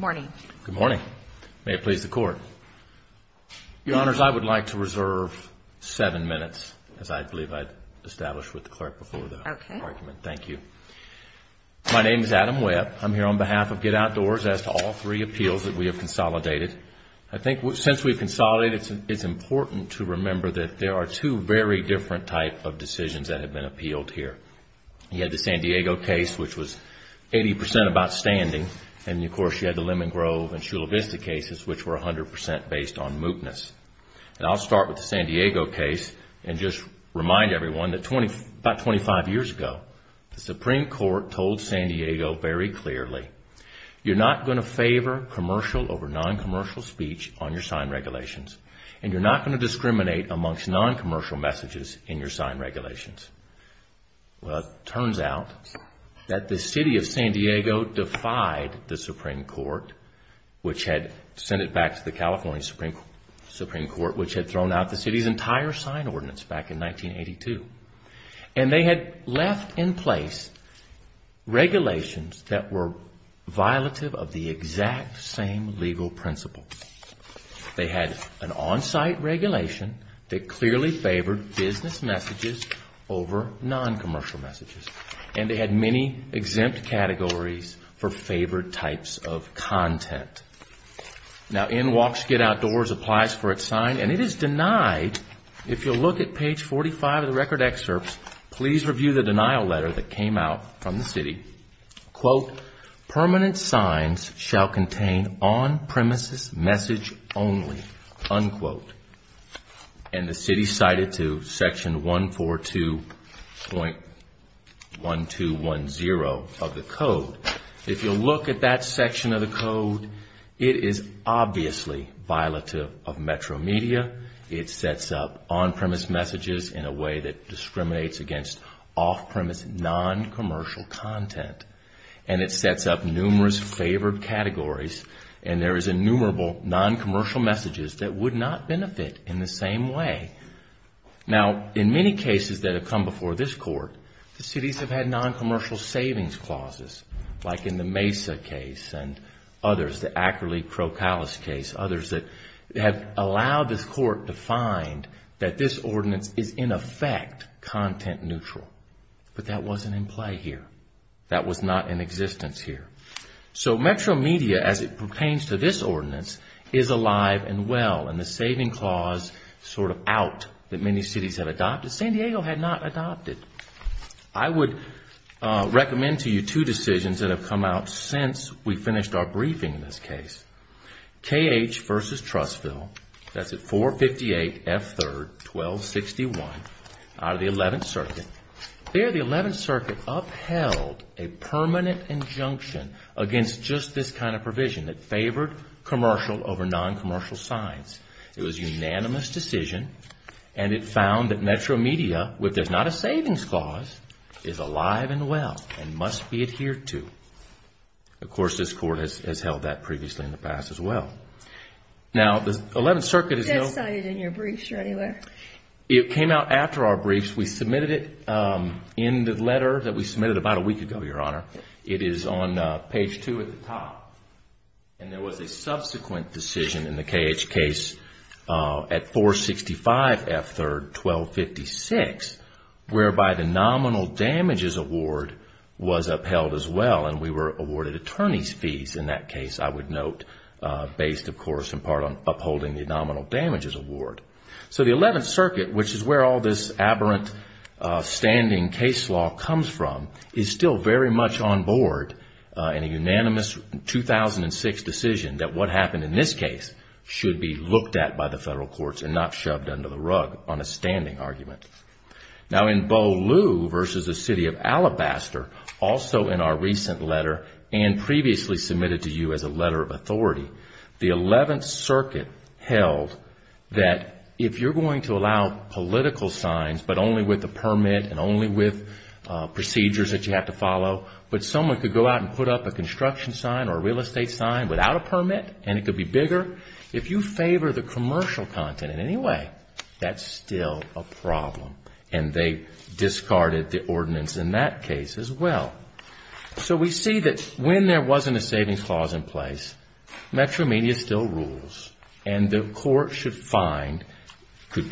Good morning. May it please the Court. Your Honors, I would like to reserve seven minutes as I believe I established with the Clerk before the argument. Thank you. My name is Adam Webb. I'm here on behalf of Get Outdoors as to all three appeals that we have consolidated. I think since we've consolidated, it's important to remember that there are two very different types of decisions that have been appealed here. You had the San Diego case, which was 80% of outstanding. And, of course, you had the Lemon Grove and Shula Vista cases, which were 100% based on mootness. And I'll start with the San Diego case and just remind everyone that about 25 years ago, the Supreme Court told San Diego very clearly, you're not going to favor commercial over non-commercial speech on your sign regulations. And you're not going to discriminate amongst non-commercial messages in your sign regulations. Well, it turns out that the City of San Diego defied the Supreme Court, which had sent it back to the California Supreme Court, which had thrown out the city's entire sign ordinance back in 1982. And they had left in place regulations that were violative of the exact same legal principles. They had an on-site regulation that clearly favored business messages over non-commercial messages. And they had many exempt categories for favored types of content. Now, In Walks, Get Outdoors applies for its sign, and it is denied. If you'll look at page 45 of the record excerpts, please review the denial letter that came out from the city. Quote, permanent signs shall contain on-premises message only, unquote. And the city cited to section 142.1210 of the code. If you'll look at that section of the code, it is obviously violative of Metro Media. It sets up on-premise messages in a way that discriminates against off-premise non-commercial content. And it sets up numerous favored categories, and there is innumerable non-commercial messages that would not benefit in the same way. Now, in many cases that have come before this court, the cities have had non-commercial savings clauses, like in the Mesa case and others, the Ackerley-Prokalis case. Others that have allowed this court to find that this ordinance is, in effect, content neutral. But that wasn't in play here. That was not in existence here. So, Metro Media, as it pertains to this ordinance, is alive and well. And the saving clause sort of out that many cities have adopted, San Diego had not adopted. I would recommend to you two decisions that have come out since we finished our briefing in this case. KH versus Trustville, that's at 458 F3rd 1261 out of the 11th Circuit. There, the 11th Circuit upheld a permanent injunction against just this kind of provision that favored commercial over non-commercial signs. It was a unanimous decision. And it found that Metro Media, if there's not a savings clause, is alive and well and must be adhered to. Of course, this court has held that previously in the past as well. Now, the 11th Circuit has no... Just cited in your briefs or anywhere. It came out after our briefs. We submitted it in the letter that we submitted about a week ago, Your Honor. It is on page two at the top. And there was a subsequent decision in the KH case at 465 F3rd 1256, whereby the nominal damages award was upheld as well. And we were awarded attorney's fees in that case, I would note, based, of course, in part on upholding the nominal damages award. So the 11th Circuit, which is where all this aberrant standing case law comes from, is still very much on board in a unanimous 2006 decision that what happened in this case should be looked at by the federal courts and not shoved under the rug on a standing argument. Now, in Beaulieu v. The City of Alabaster, also in our recent letter and previously submitted to you as a letter of authority, the 11th Circuit held that if you're going to allow political signs, but only with a permit and only with procedures that you have to follow, but someone could go out and put up a construction sign or a real estate sign without a permit and it could be bigger, if you favor the commercial content in any way, that's still a problem. And they discarded the ordinance in that case as well. So we see that when there wasn't a savings clause in place, Metro Media still rules and the court should find... You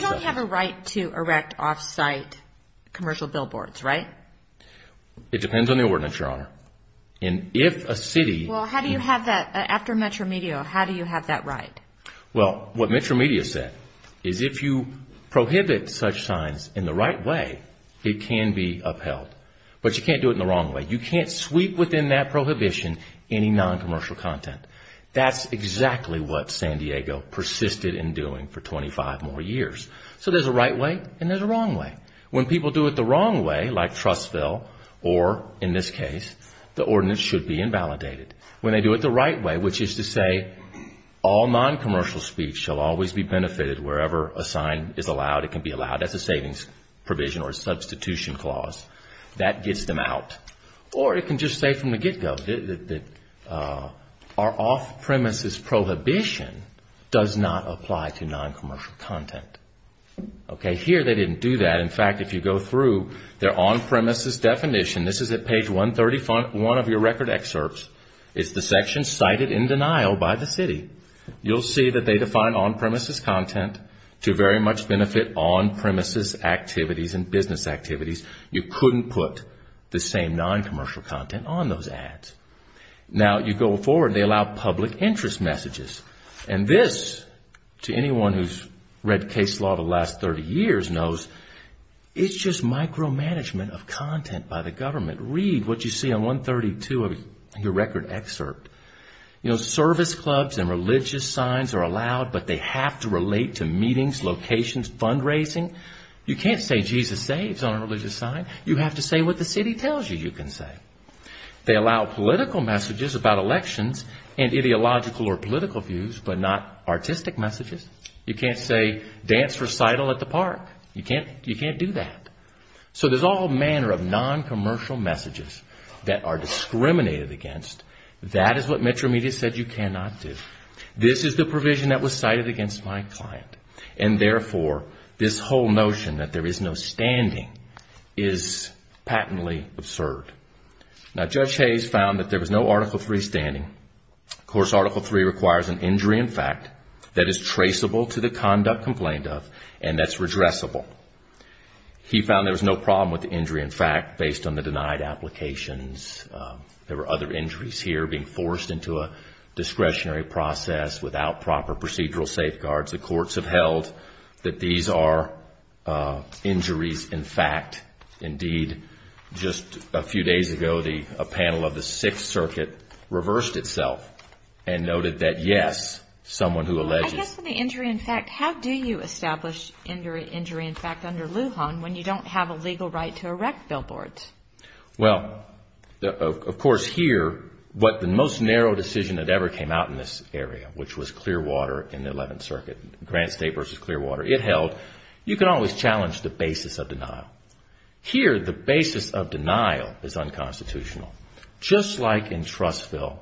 don't have a right to erect off-site commercial billboards, right? It depends on the ordinance, Your Honor. Well, how do you have that? After Metro Media, how do you have that right? Well, what Metro Media said is if you prohibit such signs in the right way, it can be upheld. But you can't do it in the wrong way. You can't sweep within that prohibition any non-commercial content. That's exactly what San Diego persisted in doing for 25 more years. So there's a right way and there's a wrong way. When people do it the wrong way, like Trustville, or in this case, the ordinance should be invalidated. When they do it the right way, which is to say all non-commercial speech shall always be benefited wherever a sign is allowed, it can be allowed as a savings provision or a substitution clause. That gets them out. Or it can just say from the get-go that our off-premises prohibition does not apply to non-commercial content. Okay, here they didn't do that. In fact, if you go through their on-premises definition, this is at page 131 of your record excerpts. It's the section cited in denial by the city. You'll see that they define on-premises content to very much benefit on-premises activities and business activities. You couldn't put the same non-commercial content on those ads. Now, you go forward and they allow public interest messages. And this, to anyone who's read case law the last 30 years knows, it's just micromanagement of content by the government. Read what you see on 132 of your record excerpt. You know, service clubs and religious signs are allowed, but they have to relate to meetings, locations, fundraising. You can't say Jesus saves on a religious sign. You have to say what the city tells you you can say. They allow political messages about elections and ideological or political views, but not artistic messages. You can't say dance recital at the park. You can't do that. So there's all manner of non-commercial messages that are discriminated against. That is what Metro Media said you cannot do. This is the provision that was cited against my client. And therefore, this whole notion that there is no standing is patently absurd. Now, Judge Hayes found that there was no Article III standing. Of course, Article III requires an injury in fact that is traceable to the conduct complained of and that's redressable. He found there was no problem with the injury in fact based on the denied applications. There were other injuries here being forced into a discretionary process without proper procedural safeguards. The courts have held that these are injuries in fact. Indeed, just a few days ago, a panel of the Sixth Circuit reversed itself and noted that yes, someone who alleges. And just for the injury in fact, how do you establish injury in fact under Lujan when you don't have a legal right to erect billboards? Well, of course here, what the most narrow decision that ever came out in this area, which was Clearwater in the 11th Circuit, Grant State versus Clearwater, it held you can always challenge the basis of denial. Here, the basis of denial is unconstitutional, just like in Trustville.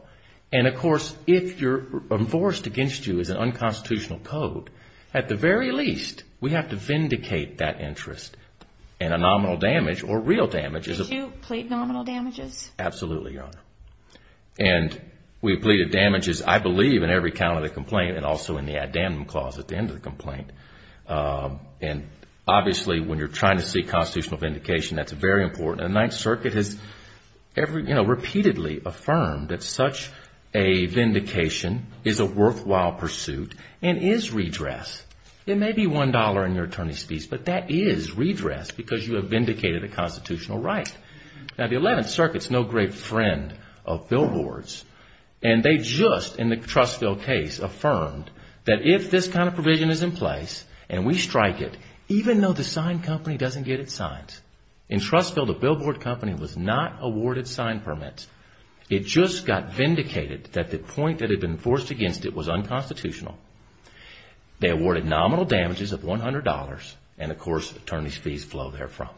And of course, if you're enforced against you as an unconstitutional code, at the very least, we have to vindicate that interest. And a nominal damage or real damage is a... Did you plead nominal damages? Absolutely, Your Honor. And we pleaded damages, I believe, in every count of the complaint and also in the addendum clause at the end of the complaint. And obviously, when you're trying to seek constitutional vindication, that's very important. The 9th Circuit has repeatedly affirmed that such a vindication is a worthwhile pursuit and is redress. It may be $1 in your attorney's fees, but that is redress because you have vindicated a constitutional right. Now, the 11th Circuit is no great friend of billboards. And they just, in the Trustville case, affirmed that if this kind of provision is in place and we strike it, even though the signed company doesn't get its signs, in Trustville, the billboard company was not awarded signed permits. It just got vindicated that the point that had been enforced against it was unconstitutional. They awarded nominal damages of $100, and of course, attorney's fees flow therefrom.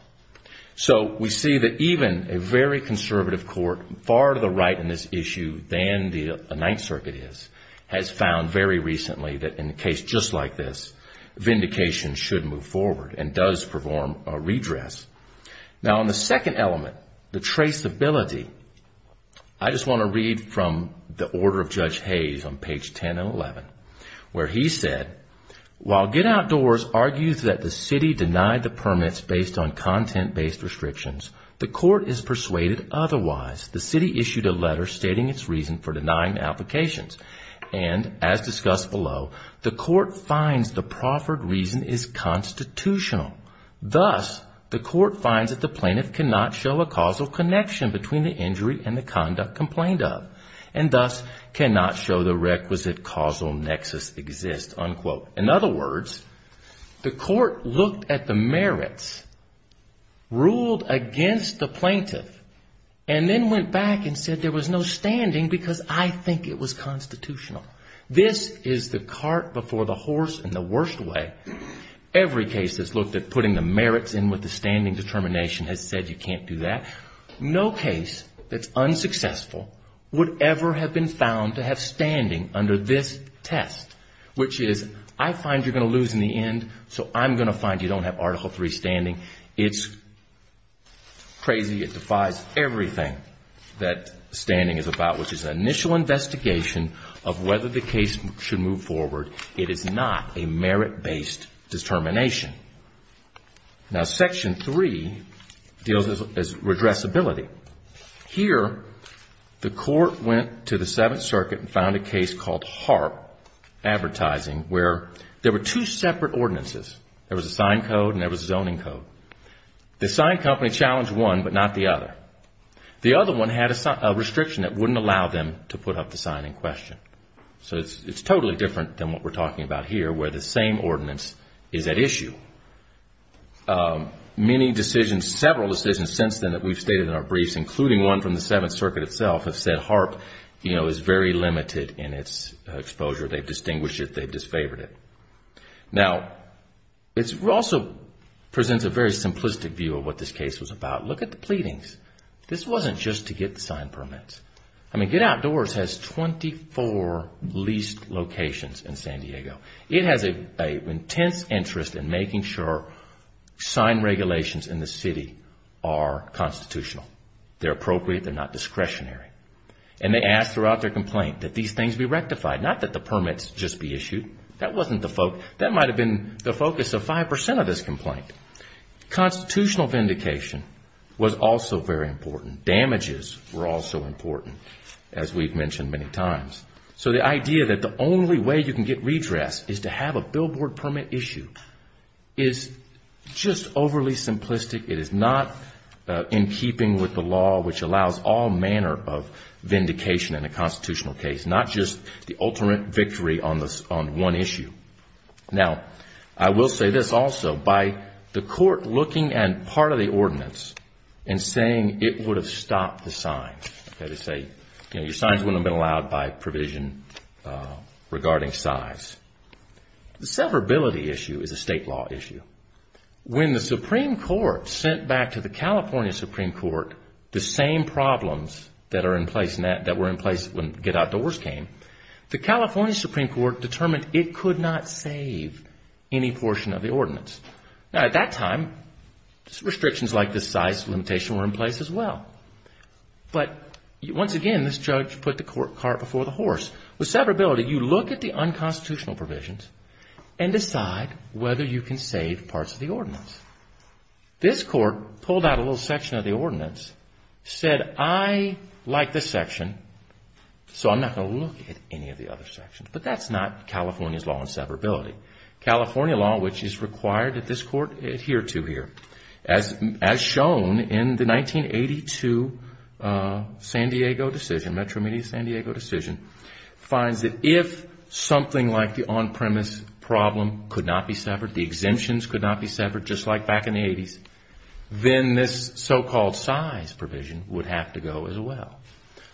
So, we see that even a very conservative court, far to the right in this issue than the 9th Circuit is, has found very recently that in a case just like this, vindication should move forward and does perform a redress. Now, on the second element, the traceability, I just want to read from the order of Judge Hayes on page 10 and 11, where he said, While Get Outdoors argues that the city denied the permits based on content-based restrictions, the court is persuaded otherwise. The city issued a letter stating its reason for denying the applications. And, as discussed below, the court finds the proffered reason is constitutional. Thus, the court finds that the plaintiff cannot show a causal connection between the injury and the conduct complained of, and thus cannot show the requisite causal nexus exists. In other words, the court looked at the merits, ruled against the plaintiff, and then went back and said there was no standing because I think it was constitutional. This is the cart before the horse in the worst way. Every case that's looked at putting the merits in with the standing determination has said you can't do that. No case that's unsuccessful would ever have been found to have standing under this test, which is, I find you're going to lose in the end, so I'm going to find you don't have Article III standing. It's crazy. It defies everything that standing is about, which is an initial investigation of whether the case should move forward. It is not a merit-based determination. Now, Section III deals with redressability. Here, the court went to the Seventh Circuit and found a case called Harp Advertising where there were two separate ordinances. There was a sign code and there was a zoning code. The sign company challenged one but not the other. The other one had a restriction that wouldn't allow them to put up the sign in question. So it's totally different than what we're talking about here where the same ordinance is at issue. Many decisions, several decisions since then that we've stated in our briefs, including one from the Seventh Circuit itself, have said Harp is very limited in its exposure. They've distinguished it. They've disfavored it. Now, it also presents a very simplistic view of what this case was about. Look at the pleadings. This wasn't just to get the sign permits. I mean, Get Outdoors has 24 leased locations in San Diego. It has an intense interest in making sure sign regulations in the city are constitutional. They're appropriate. They're not discretionary. And they asked throughout their complaint that these things be rectified, not that the permits just be issued. That might have been the focus of 5% of this complaint. Constitutional vindication was also very important. Damages were also important, as we've mentioned many times. So the idea that the only way you can get redress is to have a billboard permit issued is just overly simplistic. It is not in keeping with the law which allows all manner of vindication in a constitutional case, not just the ultimate victory on one issue. Now, I will say this also. By the court looking at part of the ordinance and saying it would have stopped the sign, that is to say your signs wouldn't have been allowed by provision regarding size, the severability issue is a state law issue. When the Supreme Court sent back to the California Supreme Court the same problems that were in place when Get Outdoors came, the California Supreme Court determined it could not save any portion of the ordinance. Now, at that time, restrictions like this size limitation were in place as well. But once again, this judge put the cart before the horse. With severability, you look at the unconstitutional provisions and decide whether you can save parts of the ordinance. This court pulled out a little section of the ordinance, said, I like this section, so I'm not going to look at any of the other sections. But that's not California's law on severability. California law, which is required that this court adhere to here, as shown in the 1982 San Diego decision, Metro Media San Diego decision, finds that if something like the on-premise problem could not be severed, the exemptions could not be severed, just like back in the 80s, then this so-called size provision would have to go as well.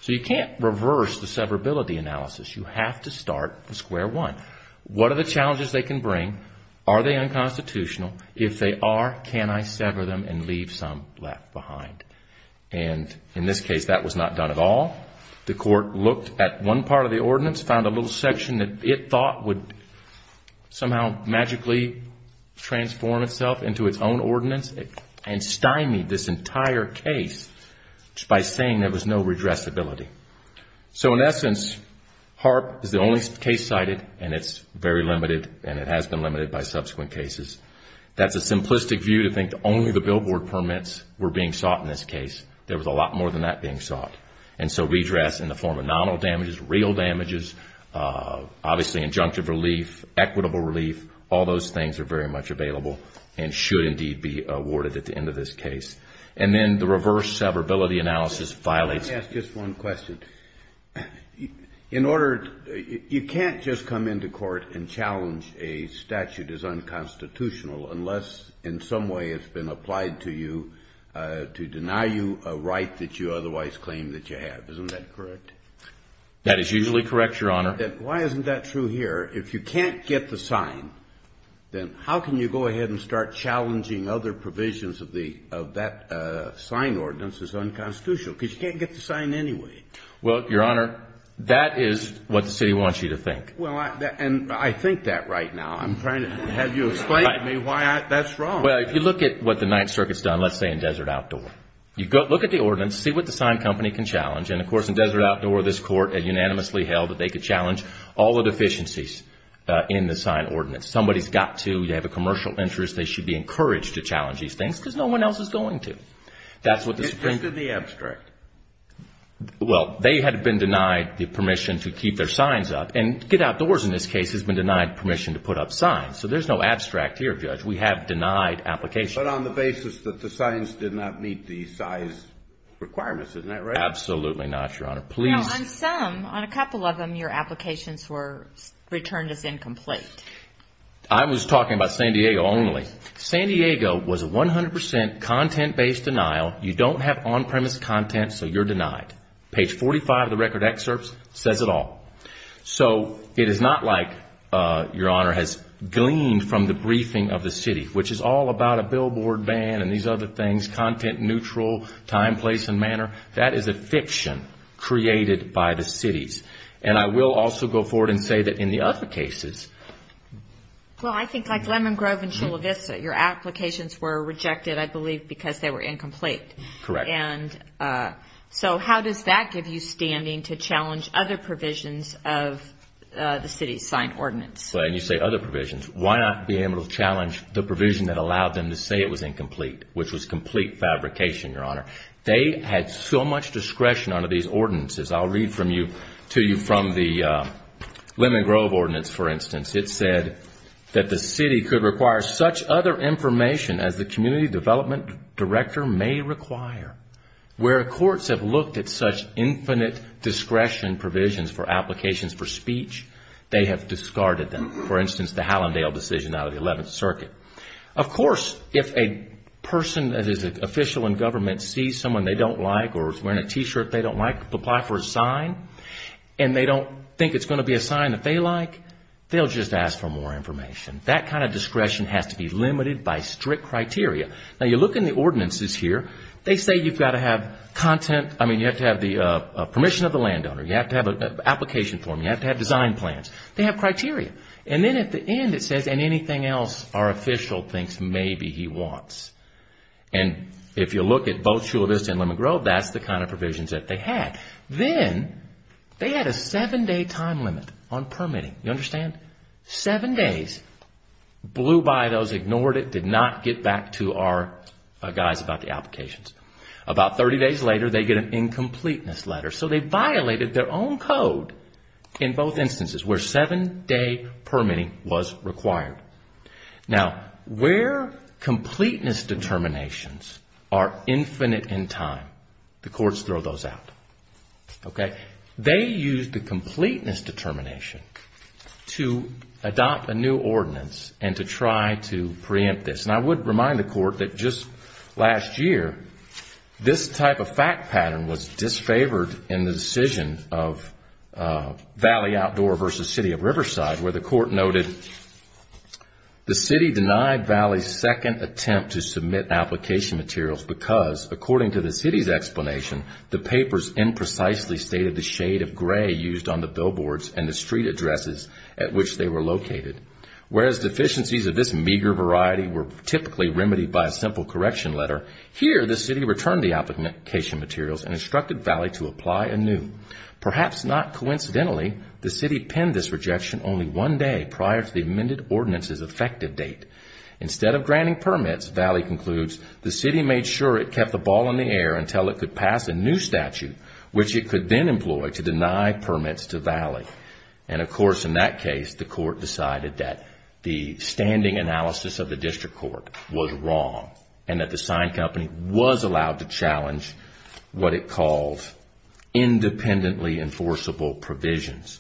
So you can't reverse the severability analysis. You have to start from square one. What are the challenges they can bring? Are they unconstitutional? If they are, can I sever them and leave some left behind? And in this case, that was not done at all. The court looked at one part of the ordinance, found a little section that it thought would somehow magically transform itself into its own ordinance, and stymied this entire case by saying there was no redressability. So in essence, HAARP is the only case cited, and it's very limited, and it has been limited by subsequent cases. That's a simplistic view to think that only the billboard permits were being sought in this case. There was a lot more than that being sought. And so redress in the form of nominal damages, real damages, obviously injunctive relief, equitable relief, all those things are very much available and should indeed be awarded at the end of this case. And then the reverse severability analysis violates it. Just one question. You can't just come into court and challenge a statute as unconstitutional unless, in some way, it's been applied to you to deny you a right that you otherwise claim that you have. Isn't that correct? That is usually correct, Your Honor. Why isn't that true here? If you can't get the sign, then how can you go ahead and start challenging other provisions of that sign ordinance because you can't get the sign anyway? Well, Your Honor, that is what the city wants you to think. Well, and I think that right now. I'm trying to have you explain to me why that's wrong. Well, if you look at what the Ninth Circuit's done, let's say in Desert Outdoor, you look at the ordinance, see what the sign company can challenge. And, of course, in Desert Outdoor, this Court unanimously held that they could challenge all the deficiencies in the sign ordinance. Somebody's got to. You have a commercial interest. They should be encouraged to challenge these things because no one else is going to. It's just in the abstract. Well, they had been denied the permission to keep their signs up. And Get Outdoors, in this case, has been denied permission to put up signs. So there's no abstract here, Judge. We have denied applications. But on the basis that the signs did not meet the size requirements. Isn't that right? Absolutely not, Your Honor. Now, on some, on a couple of them, your applications were returned as incomplete. I was talking about San Diego only. San Diego was a 100% content-based denial. You don't have on-premise content, so you're denied. Page 45 of the record excerpts says it all. So it is not like, Your Honor, has gleaned from the briefing of the city, which is all about a billboard ban and these other things, content neutral, time, place, and manner. That is a fiction created by the cities. And I will also go forward and say that in the other cases. Well, I think like Lemon Grove and Chula Vista, your applications were rejected, I believe, because they were incomplete. Correct. And so how does that give you standing to challenge other provisions of the city's signed ordinance? And you say other provisions. Why not be able to challenge the provision that allowed them to say it was incomplete, which was complete fabrication, Your Honor? They had so much discretion under these ordinances. I'll read to you from the Lemon Grove ordinance, for instance. It said that the city could require such other information as the community development director may require. Where courts have looked at such infinite discretion provisions for applications for speech, they have discarded them. For instance, the Hallandale decision out of the 11th Circuit. Of course, if a person that is an official in government sees someone they don't like or is wearing a T-shirt they don't like, apply for a sign, and they don't think it's going to be a sign that they like, they'll just ask for more information. That kind of discretion has to be limited by strict criteria. Now, you look in the ordinances here. They say you've got to have content, I mean, you have to have the permission of the landowner. You have to have an application form. You have to have design plans. They have criteria. And then at the end it says, and anything else our official thinks maybe he wants. And if you look at both Shula Vista and Lemon Grove, that's the kind of provisions that they had. Then they had a seven-day time limit on permitting. You understand? Seven days. Blew by those, ignored it, did not get back to our guys about the applications. About 30 days later they get an incompleteness letter. So they violated their own code in both instances where seven-day permitting was required. Now, where completeness determinations are infinite in time, the courts throw those out. Okay? They use the completeness determination to adopt a new ordinance and to try to preempt this. And I would remind the court that just last year this type of fact pattern was disfavored in the decision of Valley Outdoor versus City of Riverside where the court noted the city denied Valley's second attempt to submit application materials because according to the city's explanation, the papers imprecisely stated the shade of gray used on the billboards and the street addresses at which they were located. Whereas deficiencies of this meager variety were typically remedied by a simple correction letter, here the city returned the application materials and instructed Valley to apply anew. Perhaps not coincidentally, the city penned this rejection only one day prior to the amended ordinance's effective date. Instead of granting permits, Valley concludes the city made sure it kept the ball in the air until it could pass a new statute which it could then employ to deny permits to Valley. And of course in that case, the court decided that the standing analysis of the district court was wrong and that the sign company was allowed to challenge what it called independently enforceable provisions.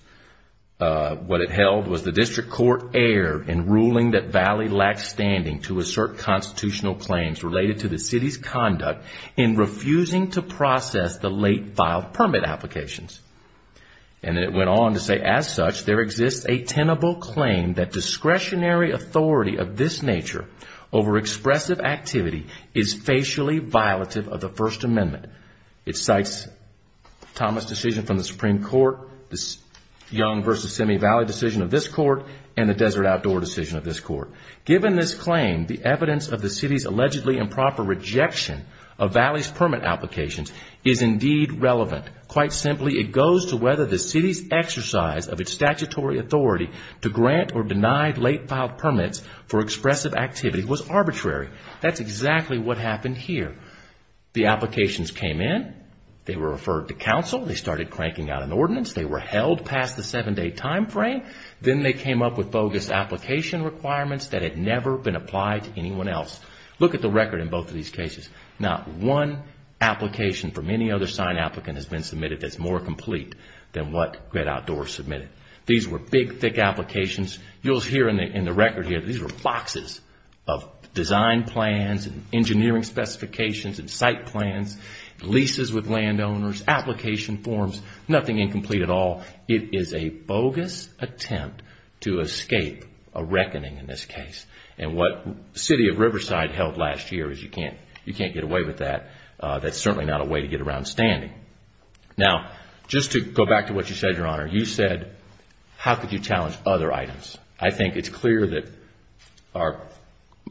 What it held was the district court erred in ruling that Valley lacked standing to assert constitutional claims related to the city's conduct in refusing to process the late filed permit applications. And it went on to say, as such, there exists a tenable claim that discretionary authority of this nature over expressive activity is facially violative of the First Amendment. It cites Thomas' decision from the Supreme Court, the Young v. Semi Valley decision of this court, and the Desert Outdoor decision of this court. Given this claim, the evidence of the city's allegedly improper rejection of Valley's permit applications is indeed relevant. Quite simply, it goes to whether the city's exercise of its statutory authority to grant or deny late filed permits for expressive activity was arbitrary. That's exactly what happened here. The applications came in. They were referred to counsel. They started cranking out an ordinance. They were held past the seven-day time frame. Then they came up with bogus application requirements that had never been applied to anyone else. Look at the record in both of these cases. Not one application from any other sign applicant has been submitted that's more complete than what Great Outdoors submitted. These were big, thick applications. You'll hear in the record here that these were boxes of design plans and engineering specifications and site plans, leases with landowners, application forms, nothing incomplete at all. It is a bogus attempt to escape a reckoning in this case. What the city of Riverside held last year is you can't get away with that. That's certainly not a way to get around standing. Now, just to go back to what you said, Your Honor. You said, how could you challenge other items? I think it's clear that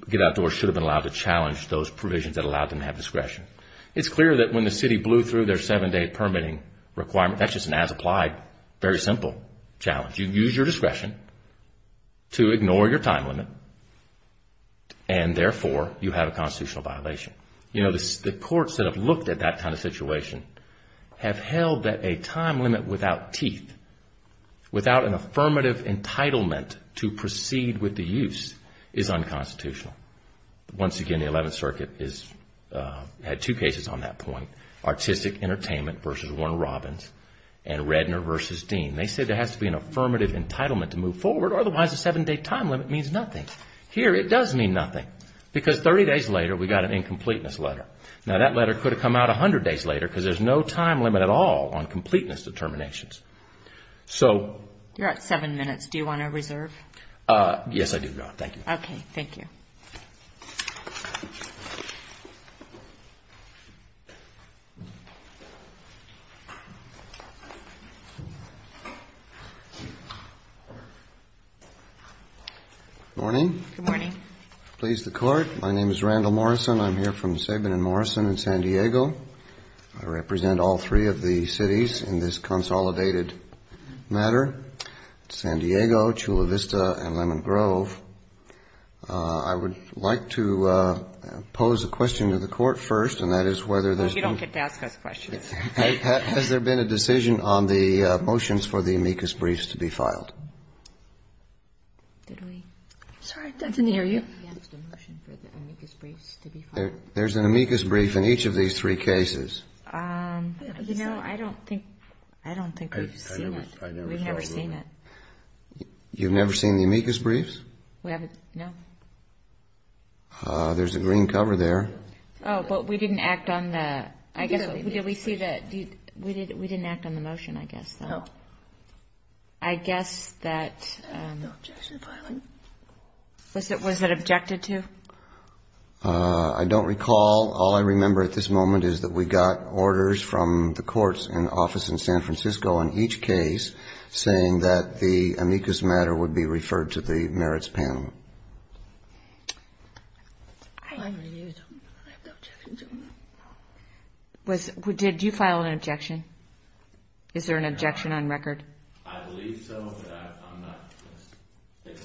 Get Outdoors should have been allowed to challenge those provisions that allowed them to have discretion. It's clear that when the city blew through their seven-day permitting requirement, that's just an as-applied, very simple challenge. You use your discretion to ignore your time limit and, therefore, you have a constitutional violation. The courts that have looked at that kind of situation have held that a time limit without teeth, without an affirmative entitlement to proceed with the use, is unconstitutional. Once again, the Eleventh Circuit had two cases on that point. Artistic Entertainment v. Warner Robins and Redner v. Dean. They said there has to be an affirmative entitlement to move forward. Otherwise, a seven-day time limit means nothing. Here, it does mean nothing because 30 days later, we got an incompleteness letter. Now, that letter could have come out 100 days later because there's no time limit at all on completeness determinations. You're at seven minutes. Do you want to reserve? Yes, I do, Your Honor. Thank you. Okay. Thank you. Good morning. Please, the Court. My name is Randall Morrison. I'm here from Saban and Morrison in San Diego. I represent all three of the cities in this consolidated matter, San Diego, Chula Vista, and Lemon Grove. I would like to pose a question to the Court first, and that is whether there's been… You don't get to ask us questions. Has there been a decision on the motions for the amicus briefs to be filed? Did we? I'm sorry. I didn't hear you. Has there been a motion for the amicus briefs to be filed? There's an amicus brief in each of these three cases. You know, I don't think we've seen it. We've never seen it. You've never seen the amicus briefs? We haven't, no. There's a green cover there. Oh, but we didn't act on the… No. We didn't act on the motion, I guess, though. No. I guess that… Was it objected to? I don't recall. All I remember at this moment is that we got orders from the courts in the office in San Francisco in each case saying that the amicus matter would be referred to the merits panel. Did you file an objection? Is there an objection on record? I believe so, but I'm not going to…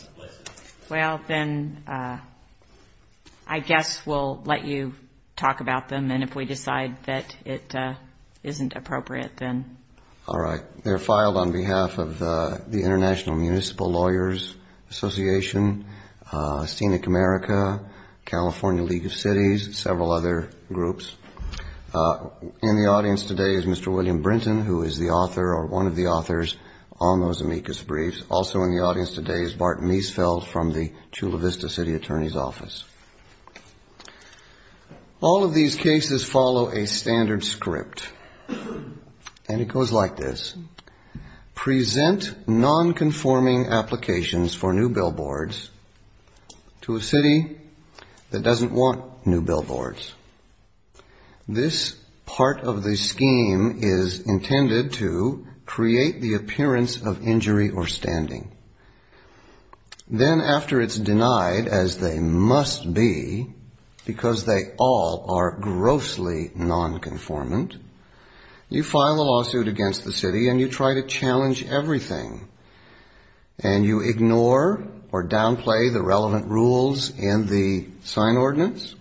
Well, then I guess we'll let you talk about them, and if we decide that it isn't appropriate, then… All right. They're filed on behalf of the International Municipal Lawyers Association, Scenic America, California League of Cities, several other groups. In the audience today is Mr. William Brinton, who is the author or one of the authors on those amicus briefs. Also in the audience today is Bart Miesfeld from the Chula Vista City Attorney's Office. All of these cases follow a standard script, and it goes like this. Present nonconforming applications for new billboards to a city that doesn't want new billboards. This part of the scheme is intended to create the appearance of injury or standing. Then, after it's denied, as they must be, because they all are grossly nonconformant, you file a lawsuit against the city, and you try to challenge everything, and you ignore or downplay the relevant rules in the sign ordinance.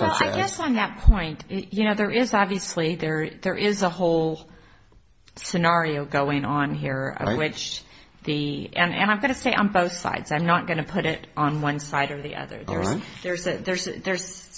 Well, I guess on that point, you know, there is obviously a whole scenario going on here of which the… And I'm going to say on both sides. I'm not going to put it on one side or the other. All right. There's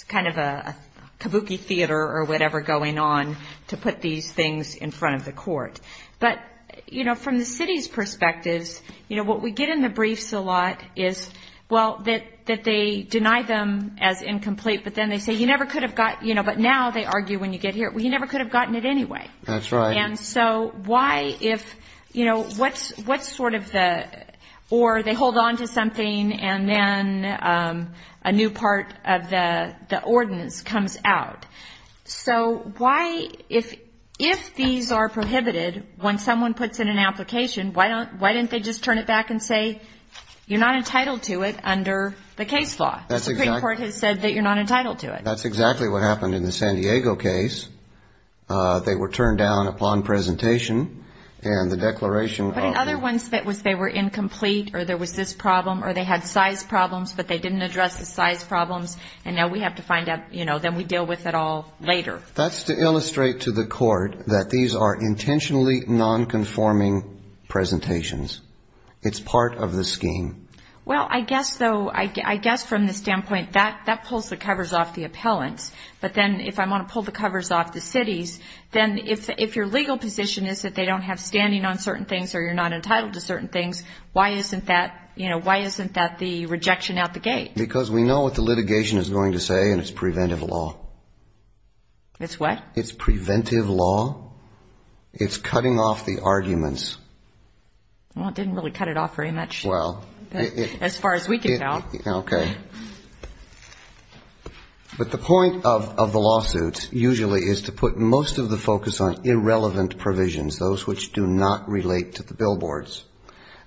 kind of a kabuki theater or whatever going on to put these things in front of the court. But, you know, from the city's perspectives, you know, what we get in the briefs a lot is, well, that they deny them as incomplete, but then they say you never could have got… You know, but now they argue when you get here, well, you never could have gotten it anyway. That's right. And so why if, you know, what's sort of the… Or they hold on to something, and then a new part of the ordinance comes out. So why, if these are prohibited, when someone puts in an application, why don't they just turn it back and say you're not entitled to it under the case law? The Supreme Court has said that you're not entitled to it. That's exactly what happened in the San Diego case. They were turned down upon presentation, and the declaration of… But in other ones, they were incomplete, or there was this problem, or they had size problems, but they didn't address the size problems, and now we have to find out, you know, then we deal with it all later. That's to illustrate to the court that these are intentionally nonconforming presentations. It's part of the scheme. Well, I guess, though, I guess from the standpoint that pulls the covers off the appellants. But then if I want to pull the covers off the cities, then if your legal position is that they don't have standing on certain things or you're not entitled to certain things, why isn't that, you know, why isn't that the rejection out the gate? Because we know what the litigation is going to say, and it's preventive law. It's what? It's preventive law. It's cutting off the arguments. Well, it didn't really cut it off very much, as far as we can tell. Okay. But the point of the lawsuit usually is to put most of the focus on irrelevant provisions, those which do not relate to the billboards.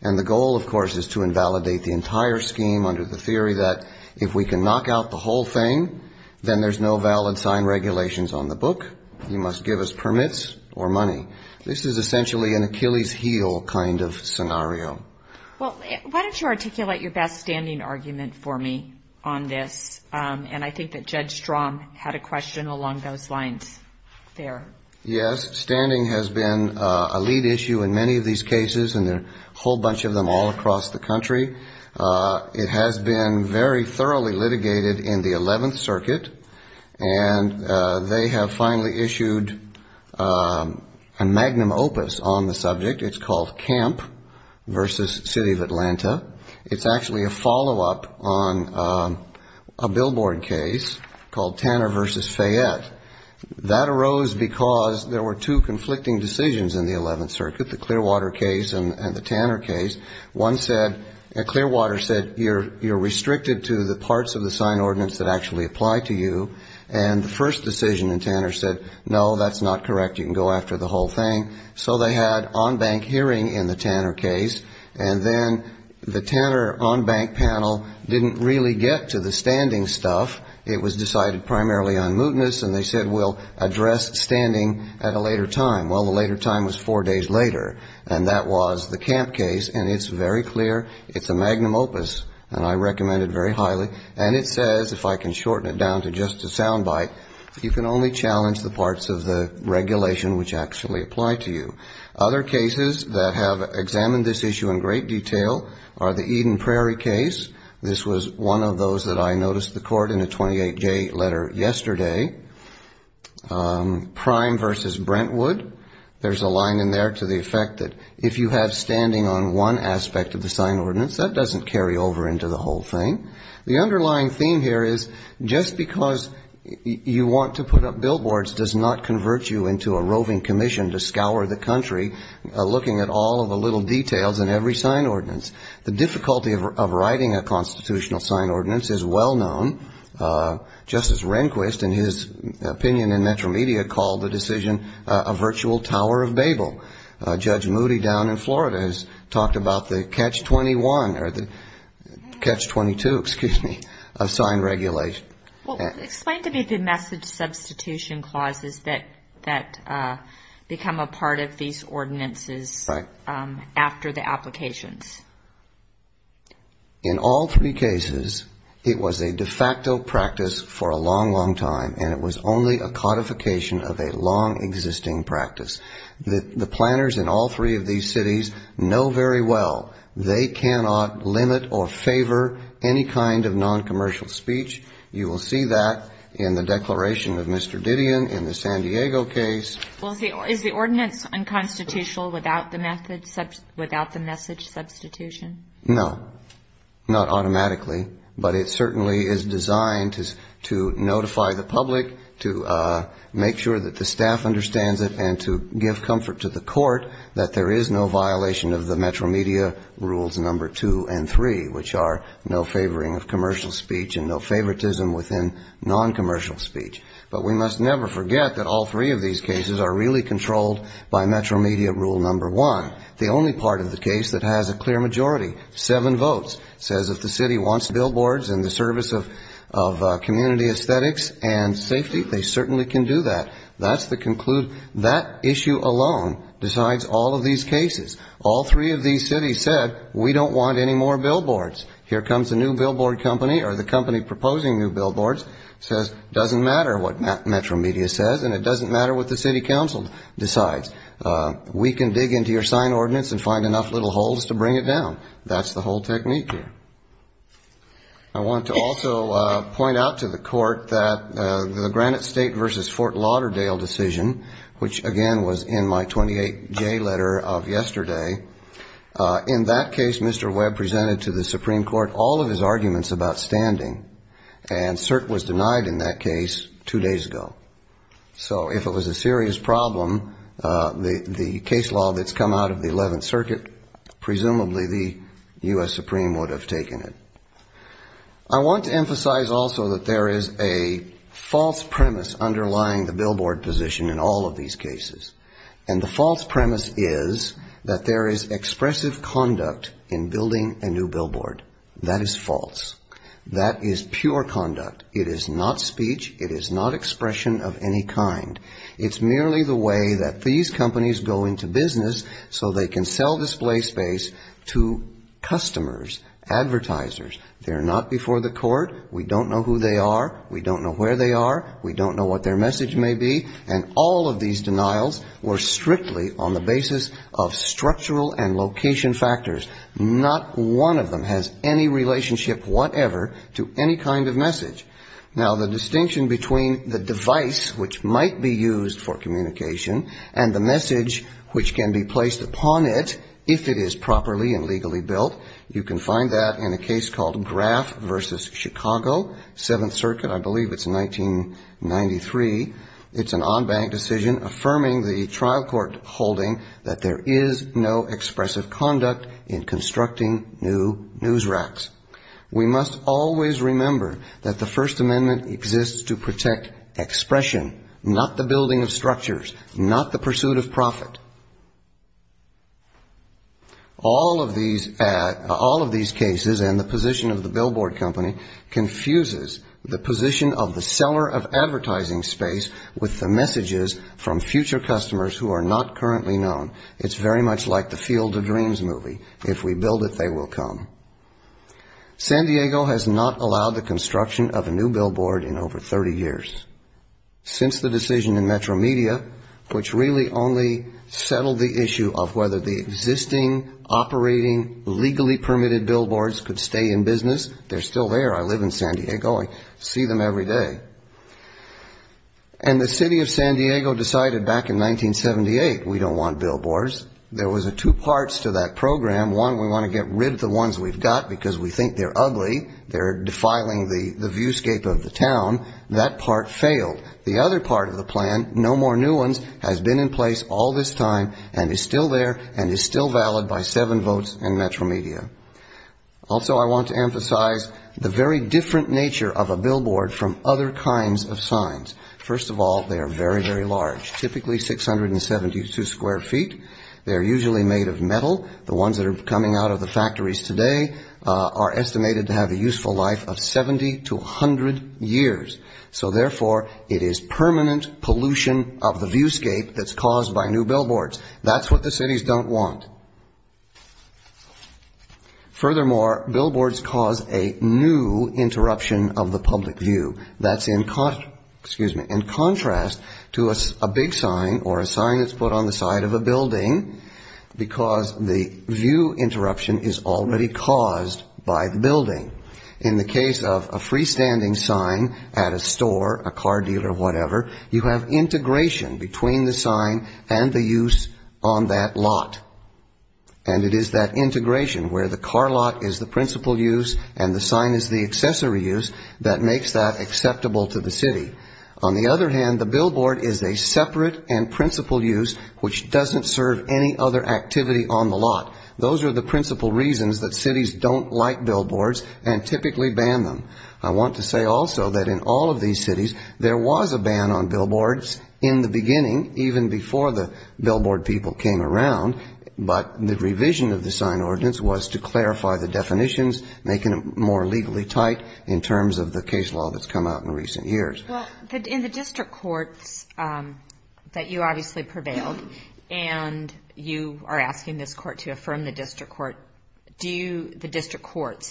And the goal, of course, is to invalidate the entire scheme under the theory that if we can knock out the whole thing, then there's no valid sign regulations on the book. You must give us permits or money. Well, why don't you articulate your best standing argument for me on this? And I think that Judge Strom had a question along those lines there. Yes. Standing has been a lead issue in many of these cases, and there are a whole bunch of them all across the country. It has been very thoroughly litigated in the 11th Circuit, and they have finally issued a magnum opus on the subject. It's called Camp v. City of Atlanta. It's actually a follow-up on a billboard case called Tanner v. Fayette. That arose because there were two conflicting decisions in the 11th Circuit, the Clearwater case and the Tanner case. One said, Clearwater said, you're restricted to the parts of the sign ordinance that actually apply to you. And the first decision in Tanner said, no, that's not correct, you can go after the whole thing. So they had on-bank hearing in the Tanner case, and then the Tanner on-bank panel didn't really get to the standing stuff. It was decided primarily on mootness, and they said we'll address standing at a later time. Well, the later time was four days later, and that was the Camp case, and it's very clear. It's a magnum opus, and I recommend it very highly. And it says, if I can shorten it down to just a sound bite, you can only challenge the parts of the regulation which actually apply to you. Other cases that have examined this issue in great detail are the Eden Prairie case. This was one of those that I noticed the court in a 28-J letter yesterday. Prime v. Brentwood, there's a line in there to the effect that if you have standing on one aspect of the sign ordinance, that doesn't carry over into the whole thing. The underlying theme here is just because you want to put up billboards does not convert you into a roving commission to scour the country, looking at all of the little details in every sign ordinance. The difficulty of writing a constitutional sign ordinance is well known. Justice Rehnquist, in his opinion in Metro Media, called the decision a virtual Tower of Babel. Judge Moody down in Florida has talked about the catch-21 or the catch-22, excuse me, of sign regulation. Well, explain to me the message substitution clauses that become a part of these ordinances after the applications. In all three cases, it was a de facto practice for a long, long time, and it was only a codification of a long-existing practice. The planners in all three of these cities know very well they cannot limit or favor any kind of non-commercial speech. You will see that in the declaration of Mr. Didion in the San Diego case. Well, is the ordinance unconstitutional without the message substitution? No, not automatically, but it certainly is designed to notify the public, to make sure that the staff understands it, and to give comfort to the court that there is no violation of the Metro Media rules number two and three, which are no favoring of commercial speech and no favoritism within non-commercial speech. But we must never forget that all three of these cases are really controlled by Metro Media rule number one. The only part of the case that has a clear majority, seven votes, says if the city wants billboards and the service of community aesthetics and safety, they certainly can do that. That's the conclusion, that issue alone decides all of these cases. All three of these cities said we don't want any more billboards. Here comes a new billboard company or the company proposing new billboards, says it doesn't matter what Metro Media says and it doesn't matter what the city council decides. We can dig into your sign ordinance and find enough little holes to bring it down. That's the whole technique here. I want to also point out to the court that the Granite State versus Fort Lauderdale decision, which again was in my 28J letter of yesterday, in that case Mr. Webb presented to the Supreme Court all of his arguments about standing, and cert was denied in that case two days ago. So if it was a serious problem, the case law that's come out of the 11th Circuit, presumably the U.S. Supreme would have taken it. I want to emphasize also that there is a false premise underlying the billboard position in all of these cases. And the false premise is that there is expressive conduct in building a new billboard. That is false. That is pure conduct. It is not speech. It is not expression of any kind. It's merely the way that these companies go into business so they can sell display space to customers, advertisers. They're not before the court. We don't know who they are. We don't know where they are. We don't know what their message may be. And all of these denials were strictly on the basis of structural and location factors. Not one of them has any relationship whatever to any kind of message. Now, the distinction between the device which might be used for communication and the message which can be placed upon it, if it is properly and it's an en banc decision affirming the trial court holding that there is no expressive conduct in constructing new news racks. We must always remember that the First Amendment exists to protect expression, not the building of structures, not the pursuit of profit. All of these cases and the position of the billboard company confuses the position of the seller of advertising. It confuses the advertising space with the messages from future customers who are not currently known. It's very much like the Field of Dreams movie. If we build it, they will come. San Diego has not allowed the construction of a new billboard in over 30 years. Since the decision in Metro Media, which really only settled the issue of whether the existing operating legally permitted billboards could stay in business, they're still there. I live in San Diego, I see them every day. And the city of San Diego decided back in 1978, we don't want billboards. There was two parts to that program. One, we want to get rid of the ones we've got because we think they're ugly, they're defiling the viewscape of the town. That part failed. The other part of the plan, no more new ones, has been in place all this time and is still there and is still valid by seven votes in Metro Media. Also, I want to emphasize the very different nature of a billboard from other kinds of signs. First of all, they are very, very large, typically 672 square feet. They're usually made of metal. The ones that are coming out of the factories today are estimated to have a useful life of 70 to 100 years. So, therefore, it is permanent pollution of the viewscape that's caused by new billboards. That's what the cities don't want. Furthermore, billboards cause a new interruption of the public view. That's in contrast to a big sign or a sign that's put on the side of a building, because the city of San Diego is a big city. The view interruption is already caused by the building. In the case of a freestanding sign at a store, a car deal or whatever, you have integration between the sign and the use on that lot. And it is that integration, where the car lot is the principal use and the sign is the accessory use, that makes that acceptable to the city. On the other hand, the billboard is a separate and principal use, which doesn't serve any other activity on the lot. Those are the principal reasons that cities don't like billboards and typically ban them. I want to say also that in all of these cities, there was a ban on billboards in the beginning, even before the billboard people came around. But the revision of the sign ordinance was to clarify the definitions, making it more legally tight in terms of the case law that's come out in recent years. Well, in the district courts, that you obviously prevailed, and you are asking this court to effect a new billboard.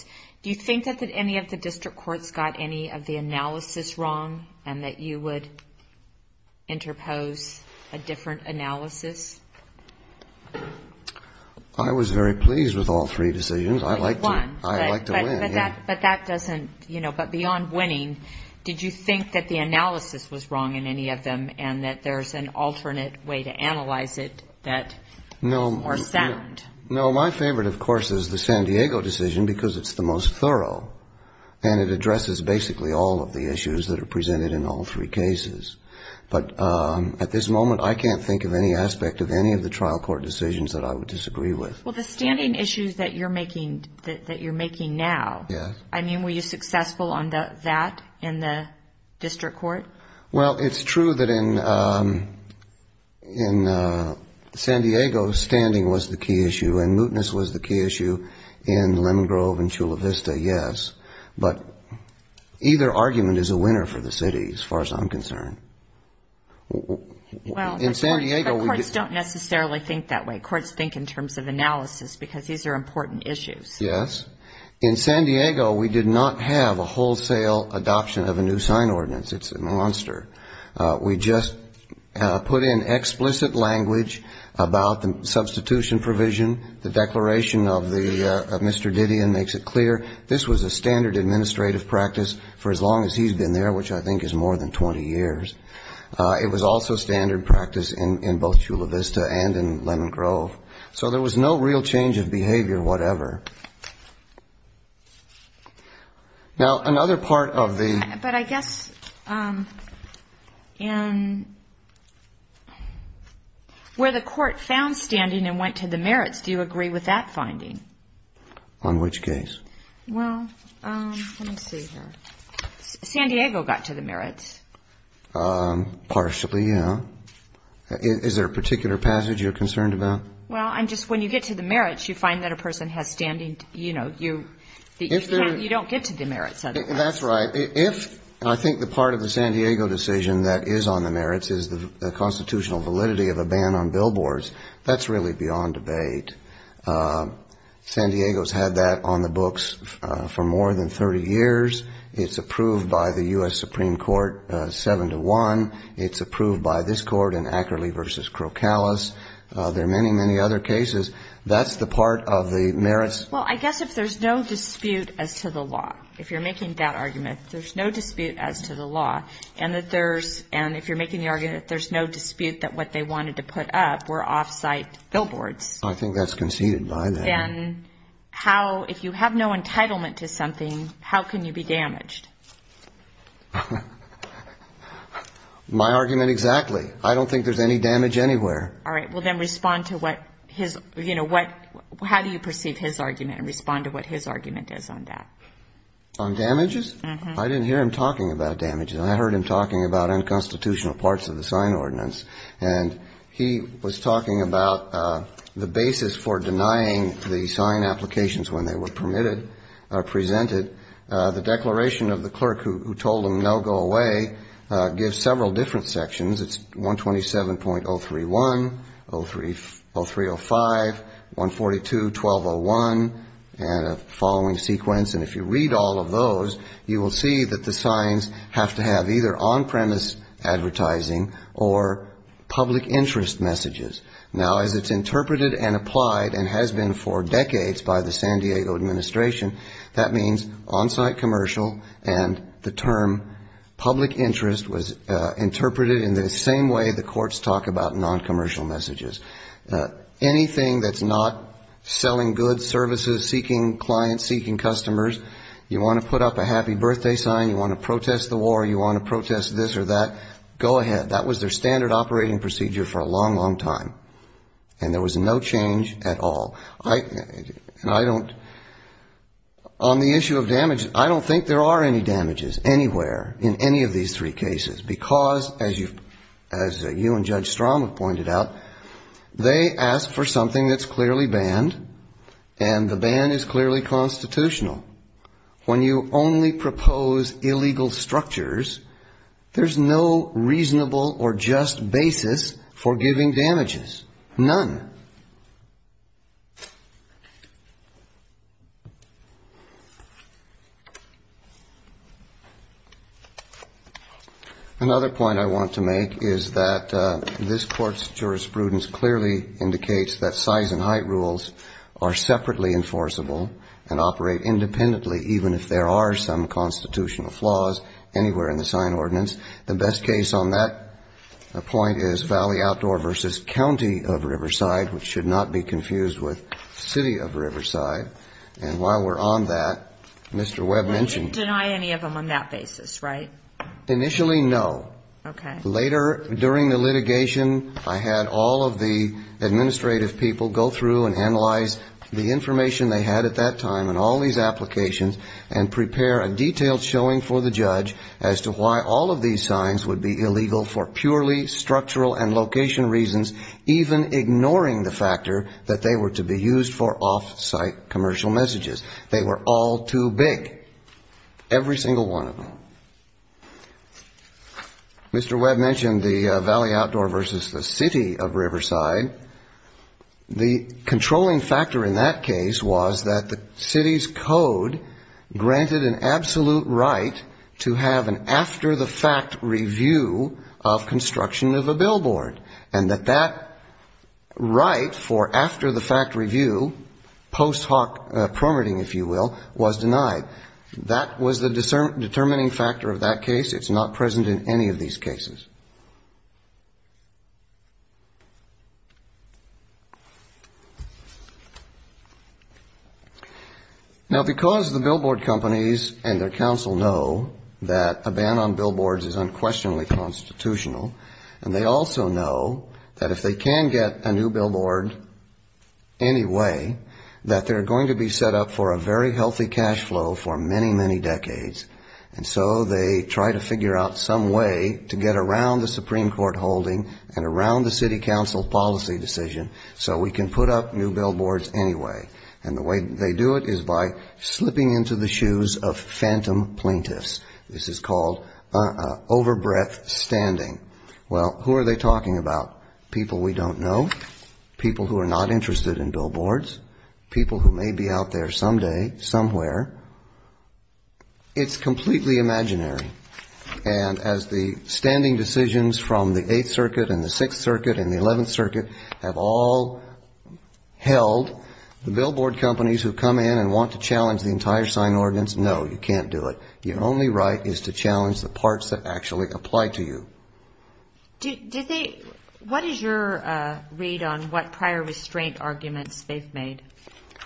Do you think that any of the district courts got any of the analysis wrong and that you would interpose a different analysis? I was very pleased with all three decisions. I like to win. But that doesn't, you know, but beyond winning, did you think that the analysis was wrong in any of them and that there's an alternate way to analyze it that is more sound? No, my favorite, of course, is the San Diego decision, because it's the most thorough, and it addresses basically all of the issues that are presented in all three cases. But at this moment, I can't think of any aspect of any of the trial court decisions that I would disagree with. Well, the standing issues that you're making now, I mean, were you successful on that in the district court? Well, it's true that in San Diego, standing was the key issue, and mootness was the key issue in Lemon Grove and Chula Vista, yes. But either argument is a winner for the city, as far as I'm concerned. Well, the courts don't necessarily think that way. Courts think in terms of analysis, because these are important issues. Yes. In San Diego, we did not have a wholesale adoption of a new sign ordinance. It's a monster. We just put in explicit language about the substitution provision, the declaration of Mr. Didion makes it clear. This was a standard administrative practice for as long as he's been there, which I think is more than 20 years. It was also standard practice in both Chula Vista and in Lemon Grove. So there was no real change of behavior whatever. Now, another part of the ---- But I guess in where the court found standing and went to the merits, do you agree with that finding? On which case? Well, let me see here. San Diego got to the merits. Partially, yeah. Is there a particular passage you're concerned about? Well, I'm just, when you get to the merits, you find that a person has standing, you know, you don't get to the merits otherwise. That's right. Well, if I think the part of the San Diego decision that is on the merits is the constitutional validity of a ban on billboards, that's really beyond debate. San Diego's had that on the books for more than 30 years. It's approved by the U.S. Supreme Court 7-1. It's approved by this court in Ackerley v. Crocalis. There are many, many other cases. That's the part of the merits. There's no dispute as to the law. And if you're making the argument that there's no dispute that what they wanted to put up were off-site billboards. I think that's conceded by that. Then how, if you have no entitlement to something, how can you be damaged? My argument exactly. I don't think there's any damage anywhere. All right. Well, then respond to what his, you know, what, how do you perceive his argument and respond to what his argument is on that? On damages? I didn't hear him talking about damages. I heard him talking about unconstitutional parts of the sign ordinance. And he was talking about the basis for denying the sign applications when they were permitted, presented. The declaration of the clerk who told him, no, go away, gives several different sections. It's 127.031, 0305, 142, 1201, and a following sequence. And if you read all of those, you will see that the signs have to have either on-premise advertising or public interest messages. Now, as it's interpreted and applied and has been for decades by the San Diego administration, that means on-site commercial and the term public interest was interpreted in the same way the courts talk about non-commercial messages. Anything that's not selling goods, services, seeking clients, seeking customers, you want to put up a happy birthday sign, you want to protest the war, you want to protest this or that, go ahead. That was their standard operating procedure for a long, long time. And there was no change at all. And I don't, on the issue of damages, I don't think there are any damages anywhere in any of these three cases, because as you and Judge Strom have pointed out, they ask for something that's clearly banned, and the ban is clearly constitutional. When you only propose illegal structures, there's no reasonable or just basis for giving damages, none. Another point I want to make is that this Court's jurisprudence clearly indicates that size and height rules are separately enforceable and operate independently, even if there are some constitutional flaws anywhere in the sign ordinance. The best case on that point is Valley Outdoor v. County of Riverside, which should not be confused with Valley Outdoor v. City of Riverside. And while we're on that, Mr. Webb mentioned... You didn't deny any of them on that basis, right? Initially, no. Later, during the litigation, I had all of the administrative people go through and analyze the information they had at that time and all these applications, and prepare a detailed showing for the judge as to why all of these signs would be illegal for purely structural and location reasons, even ignoring the factor that they were to be used for off-site commercial messages. They were all too big, every single one of them. Mr. Webb mentioned the Valley Outdoor v. the City of Riverside. The controlling factor in that case was that the city's code granted an absolute right to have an after-the-fact review of construction of a billboard. And that that right for after-the-fact review, post-hoc permitting, if you will, was denied. That was the determining factor of that case. It's not present in any of these cases. Now, because the billboard companies and their counsel know that a ban on billboards is unquestionably constitutional, and they also know that if they can get a new billboard anyway, that they're going to be set up for a very healthy cash flow for many, many decades. And so they try to figure out some way to get around the Supreme Court holding and around the city council policy decision so we can put up new billboards anyway. And the way they do it is by slipping into the shoes of phantom plaintiffs. This is called over-breath standing. Well, who are they talking about? People we don't know, people who are not interested in billboards, people who may be out there someday, somewhere. It's completely imaginary. And as the standing decisions from the Eighth Circuit and the Sixth Circuit and the Eleventh Circuit have all held, the billboard companies who come in and want to challenge the entire sign ordinance, no, you can't do it. Your only right is to do it. What is your read on what prior restraint arguments they've made?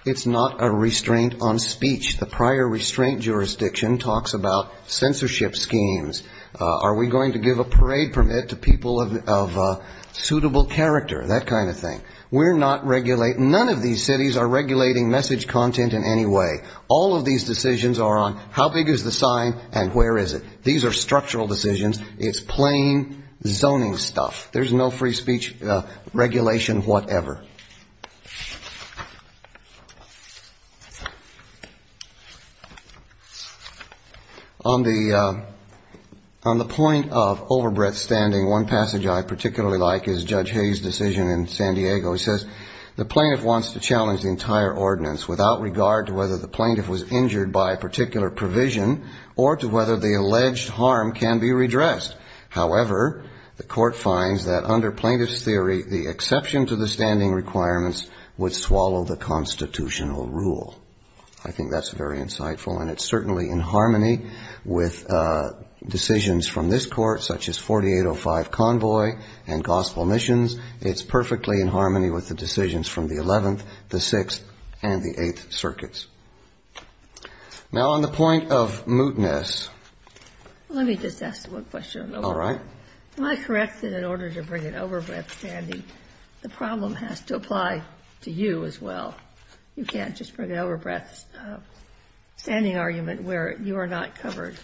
It's not a restraint on speech. The prior restraint jurisdiction talks about censorship schemes. Are we going to give a parade permit to people of suitable character? That kind of thing. We're not regulating, none of these cities are regulating message content in any way. All of these decisions are on how big is the sign and where is it. These are structural decisions. It's plain zoning stuff. There's no free speech regulation whatever. On the point of over-breath standing, one passage I particularly like is Judge Hayes' decision in San Diego. He says, the plaintiff wants to examine whether the standing requirements are subject to a particular provision or to whether the alleged harm can be redressed. However, the court finds that under plaintiff's theory, the exception to the standing requirements would swallow the constitutional rule. I think that's very insightful, and it's certainly in harmony with decisions from this court, such as 4805 Convoy and Gospel Missions. It's perfectly in harmony with the decisions from the 11th, the 6th, and the 8th circuits. Now, on the point of mootness... Let me just ask one question. Am I correct that in order to bring an over-breath standing, the problem has to apply to you as well? You can't just bring an over-breath standing argument where you are not covered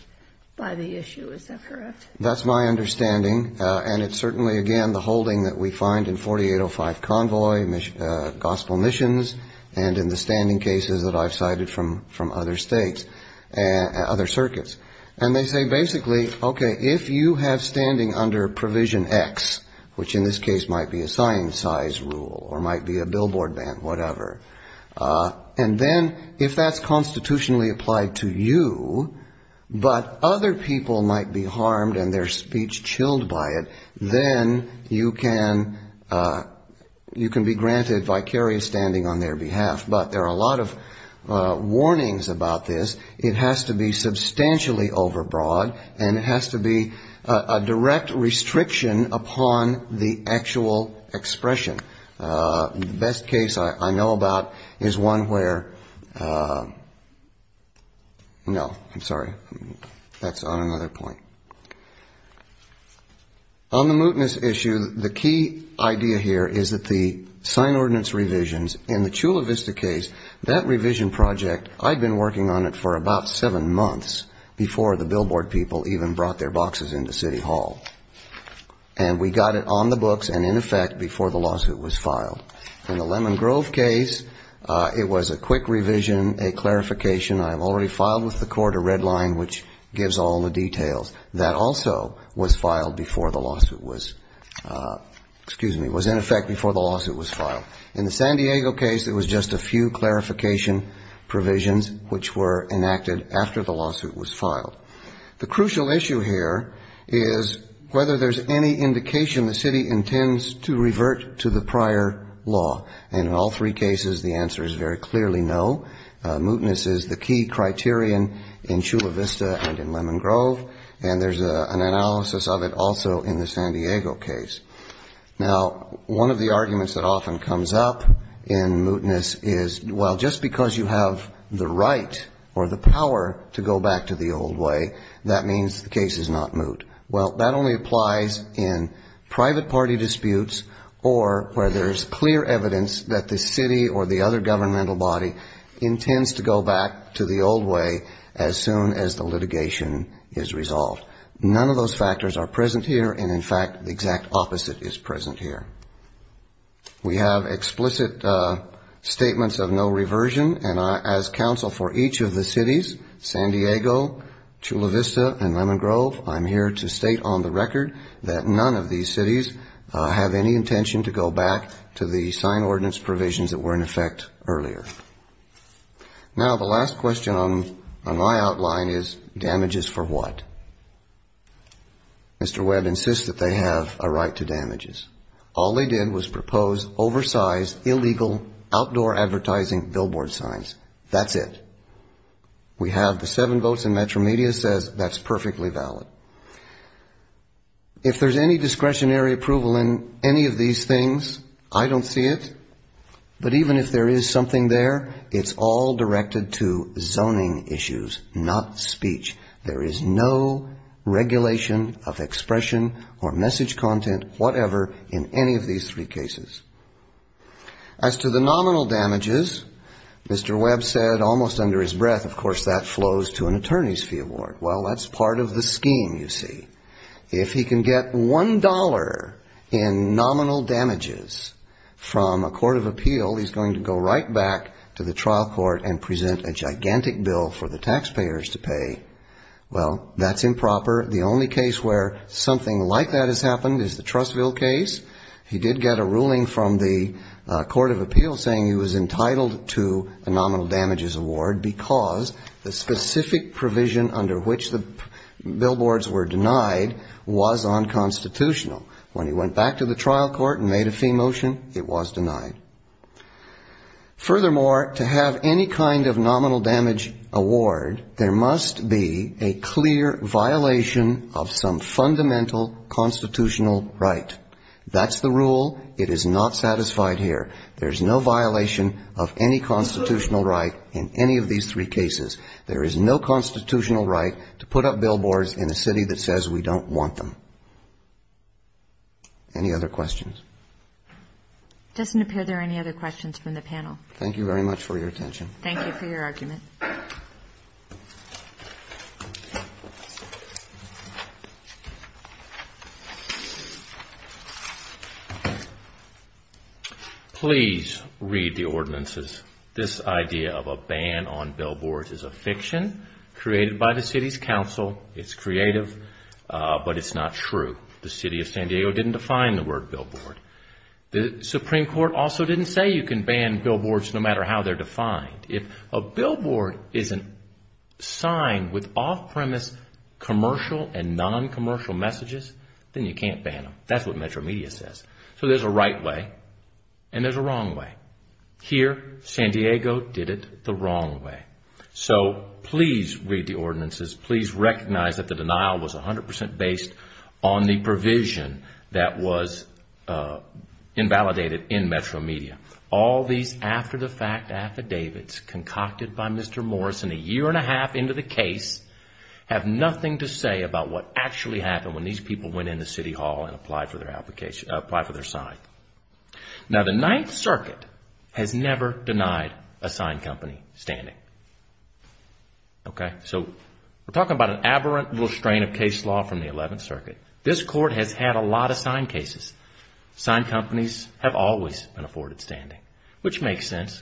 by the issue, is that correct? That's my understanding, and it's certainly, again, the holding that we find in 4805 Convoy, Gospel Missions, and in the standing cases that I've cited from other circuits. And they say basically, okay, if you have standing under Provision X, which in this case might be a sign size rule or might be a billboard ban, whatever, and then if that's constitutionally applied to you, but other people might be harmed as a result of the over-breath standing and their speech chilled by it, then you can be granted vicarious standing on their behalf. But there are a lot of warnings about this. It has to be substantially over-broad, and it has to be a direct restriction upon the actual expression. The best case I know about is one where... No, I'm sorry, that's on another point. On the mootness issue, the key idea here is that the sign ordinance revisions, in the Chula Vista case, that revision project, I'd been working on it for about seven months before the billboard people even brought their boxes into City Hall. And we got it on the books and in effect before the lawsuit was filed. In the Lemon Grove case, it was a quick revision, a clarification. I've already filed with the court a red line, which gives all the people in the city of Chula Vista and in San Diego was filed before the lawsuit was, excuse me, was in effect before the lawsuit was filed. In the San Diego case, it was just a few clarification provisions which were enacted after the lawsuit was filed. The crucial issue here is whether there's any indication the city intends to revert to the prior law. And in all three cases, the answer is very clearly no. Mootness is the key criterion in Chula Vista and in the San Diego case. Now, one of the arguments that often comes up in mootness is, well, just because you have the right or the power to go back to the old way, that means the case is not moot. Well, that only applies in private party disputes or where there's clear evidence that the city or the other governmental body intends to go back to the old way as soon as the litigation is resolved. None of those four arguments are true. Both factors are present here, and in fact, the exact opposite is present here. We have explicit statements of no reversion, and as counsel for each of the cities, San Diego, Chula Vista and Lemon Grove, I'm here to state on the record that none of these cities have any intention to go back to the sign ordinance provisions that were in effect earlier. Now, the last question on my outline is damages for what? Mr. Webb insists that they have a right to damages. All they did was propose oversized, illegal, outdoor advertising billboard signs. That's it. We have the seven votes, and Metro Media says that's perfectly valid. If there's any discretionary approval in any of these things, I don't see it. But even if there is something there, I don't see it. It's all directed to zoning issues, not speech. There is no regulation of expression or message content, whatever, in any of these three cases. As to the nominal damages, Mr. Webb said almost under his breath, of course, that flows to an attorney's fee award. Well, that's part of the scheme, you see. If he can get one dollar in nominal damages from a court of appeal, he's going to go right back to the city, and if he can get one dollar in nominal damages, he's going to go right back to the trial court and present a gigantic bill for the taxpayers to pay. Well, that's improper. The only case where something like that has happened is the Trustville case. He did get a ruling from the court of appeal saying he was entitled to a nominal damages award because the specific provision under which the billboards were denied was unconstitutional. When he went back to the trial court and made a fee motion, it was denied. Furthermore, to have any kind of nominal damage award, there must be a clear violation of some fundamental constitutional right. That's the rule. It is not satisfied here. There's no violation of any constitutional right in any of these three cases. There is no constitutional right to put up a billboard. Thank you very much for your attention. Please read the ordinances. This idea of a ban on billboards is a fiction created by the city's council. It's creative, but it's not true. The city of San Diego didn't define the word billboard. The Supreme Court also didn't say you can ban billboards no matter how they're defined. If a billboard is a sign with off-premise commercial and non-commercial messages, then you can't ban them. That's what Metro Media says. So there's a right way and there's a wrong way. Here, San Diego did it the wrong way. So please read the ordinances. Please recognize that the billboard is a fiction that was invalidated in Metro Media. All these after-the-fact affidavits concocted by Mr. Morrison a year and a half into the case have nothing to say about what actually happened when these people went in the city hall and applied for their sign. Now, the Ninth Circuit has never denied a sign company standing. So we're talking about an aberrant little strain of case law from the Eleventh Circuit. This Court has had a lot of sign cases. Sign companies have always been afforded standing, which makes sense.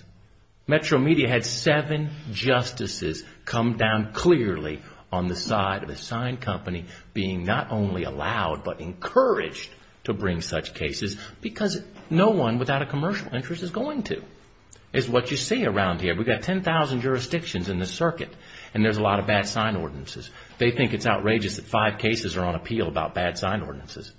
Metro Media had seven justices come down clearly on the side of a sign company being not only allowed but encouraged to bring such cases because no one without a commercial interest is going to. The Ninth Circuit is what you see around here. We've got 10,000 jurisdictions in this circuit and there's a lot of bad sign ordinances. They think it's outrageous that five cases are on appeal about bad sign ordinances.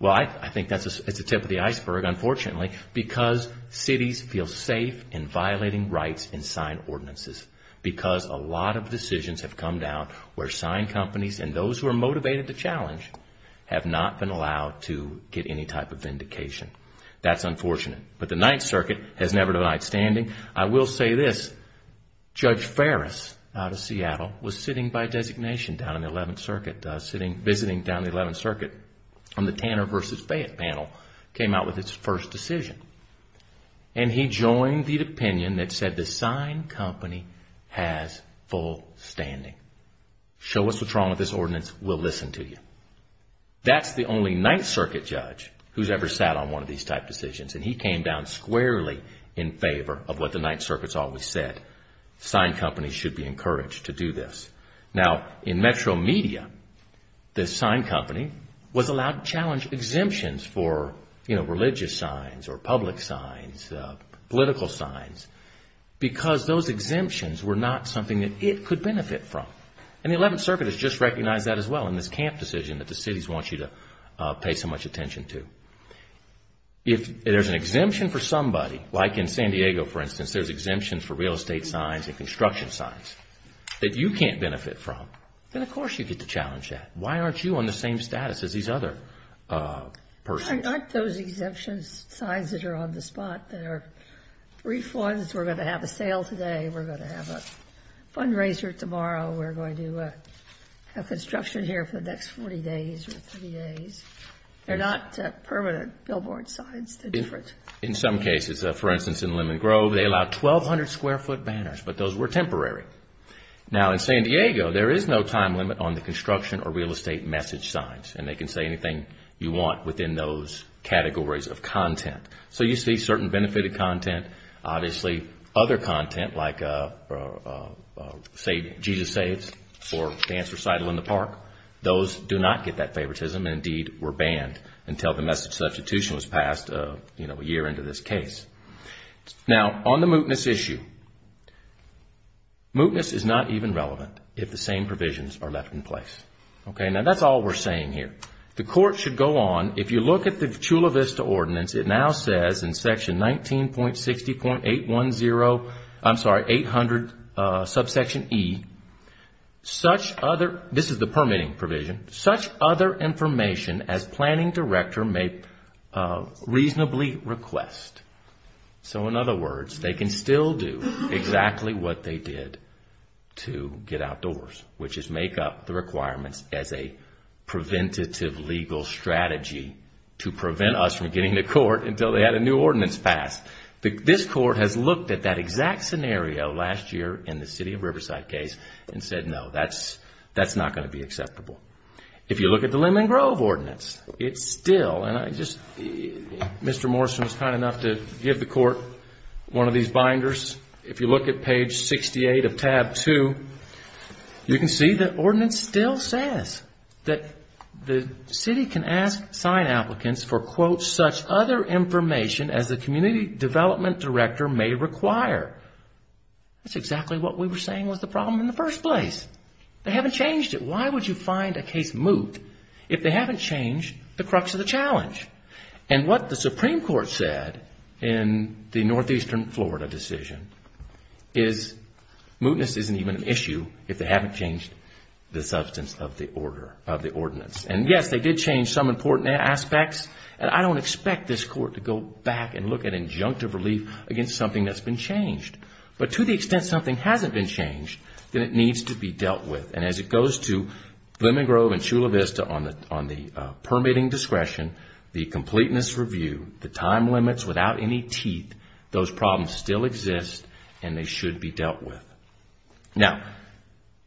Well, I think that's the tip of the iceberg, unfortunately, because cities feel safe in violating rights and sign ordinances because a lot of decisions have come down where sign companies and those who are motivated to challenge have not been allowed to get any type of vindication. That's unfortunate. But the Ninth Circuit has never denied standing. I will say this. Judge Ferris out of Seattle was sitting by designation down in the Eleventh Circuit, visiting down the Eleventh Circuit on the Tanner v. Fayette panel, came out with his first decision and he joined the opinion that said the sign company has full standing. Show us what's wrong with this ordinance, we'll listen to you. That's the only Ninth Circuit judge who's ever sat on one of these type decisions and he came down squarely in favor of what the Ninth Circuit's always said. Sign companies should be encouraged to do this. Now, in metro media, the sign company was allowed to challenge exemptions for religious signs or public signs, political signs, because those exemptions were not something that it could benefit from. And the Eleventh Circuit has just recognized that as well in this camp decision that the cities want you to pay so much attention to. If there's an exemption for somebody, like in San Diego, for instance, there's exemptions for real estate signs and construction signs, that you can't benefit from, then of course you get to challenge that. Why aren't you on the same status as these other persons? Not those exemptions, signs that are on the spot that are refunds, we're going to have a sale today, we're going to have a fundraiser tomorrow, we're going to have construction here for the next 40 days or 30 days. They're not permanent billboard signs. In some cases, for instance, in Lemon Grove, they allowed 1,200 square foot banners, but those were temporary. Now, in San Diego, there is no time limit on the construction or real estate message signs, and they can say anything you want within those categories of content. So you see certain benefited content, obviously other content, like savings, Jesus Saves, or Dance Recital in the Park, those do not get that favoritism, and indeed were banned until the message substitution was passed a year into this case. Now, on the mootness issue, mootness is not even relevant if the same provisions are left in place. Now, that's all we're saying here. The court should go on, if you look at the Chula Vista Ordinance, it now says in section 19.60.810, I'm sorry, 800, subsection E, that the mootness is not even relevant. Such other, this is the permitting provision, such other information as planning director may reasonably request. So in other words, they can still do exactly what they did to get outdoors, which is make up the requirements as a preventative legal strategy to prevent us from getting to court until they had a new ordinance passed. This court has looked at that exact scenario last year in the city of Riverside case and said, no, that's not going to be acceptable. If you look at the Lemmon Grove Ordinance, it still, and I just, Mr. Morrison was kind enough to give the court one of these binders. If you look at page 68 of tab 2, you can see the ordinance still says that the city can ask sign applicants for, quote, such other information as the community development director may require. That's exactly what we were saying was the problem in the first place. They haven't changed it. Why would you find a case moot if they haven't changed the crux of the challenge? And what the Supreme Court said in the northeastern Florida decision is mootness isn't even an issue if they haven't changed the substance of the ordinance. And yes, they did change some important aspects and I don't expect this court to go back and look at injunctive relief against something that's been changed. But to the extent something hasn't been changed, then it needs to be dealt with. And as it goes to Lemmon Grove and Chula Vista on the permitting discretion, the completeness review, the time limits without any teeth, those problems still exist and they should be dealt with. Now,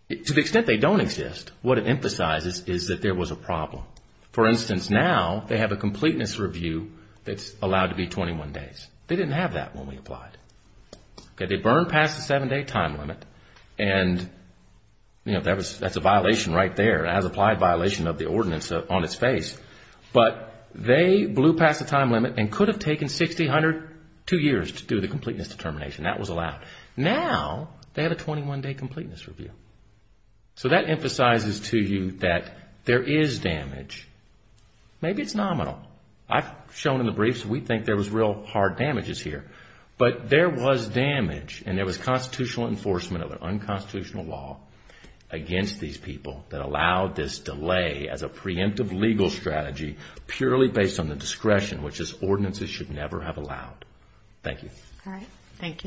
to the extent they don't exist, what it emphasizes is that there was a problem. For instance, now they have a completeness review that's allowed to be 21 days. They didn't have that when we applied. They burned past the 7-day time limit and that's a violation right there, an as-applied violation of the ordinance on its face, but they blew past the time limit and could have taken 60, 102 years to do the completeness determination. That was allowed. Now, they have a 21-day completeness review. So that emphasizes to you that there is damage. Maybe it's nominal. I've shown in the briefs we think there was real hard damages here, but there was damage and there was constitutional enforcement of an unconstitutional law against these people that allowed this delay as a preemptive legal strategy purely based on the discretion, which this ordinance should never have allowed. Thank you.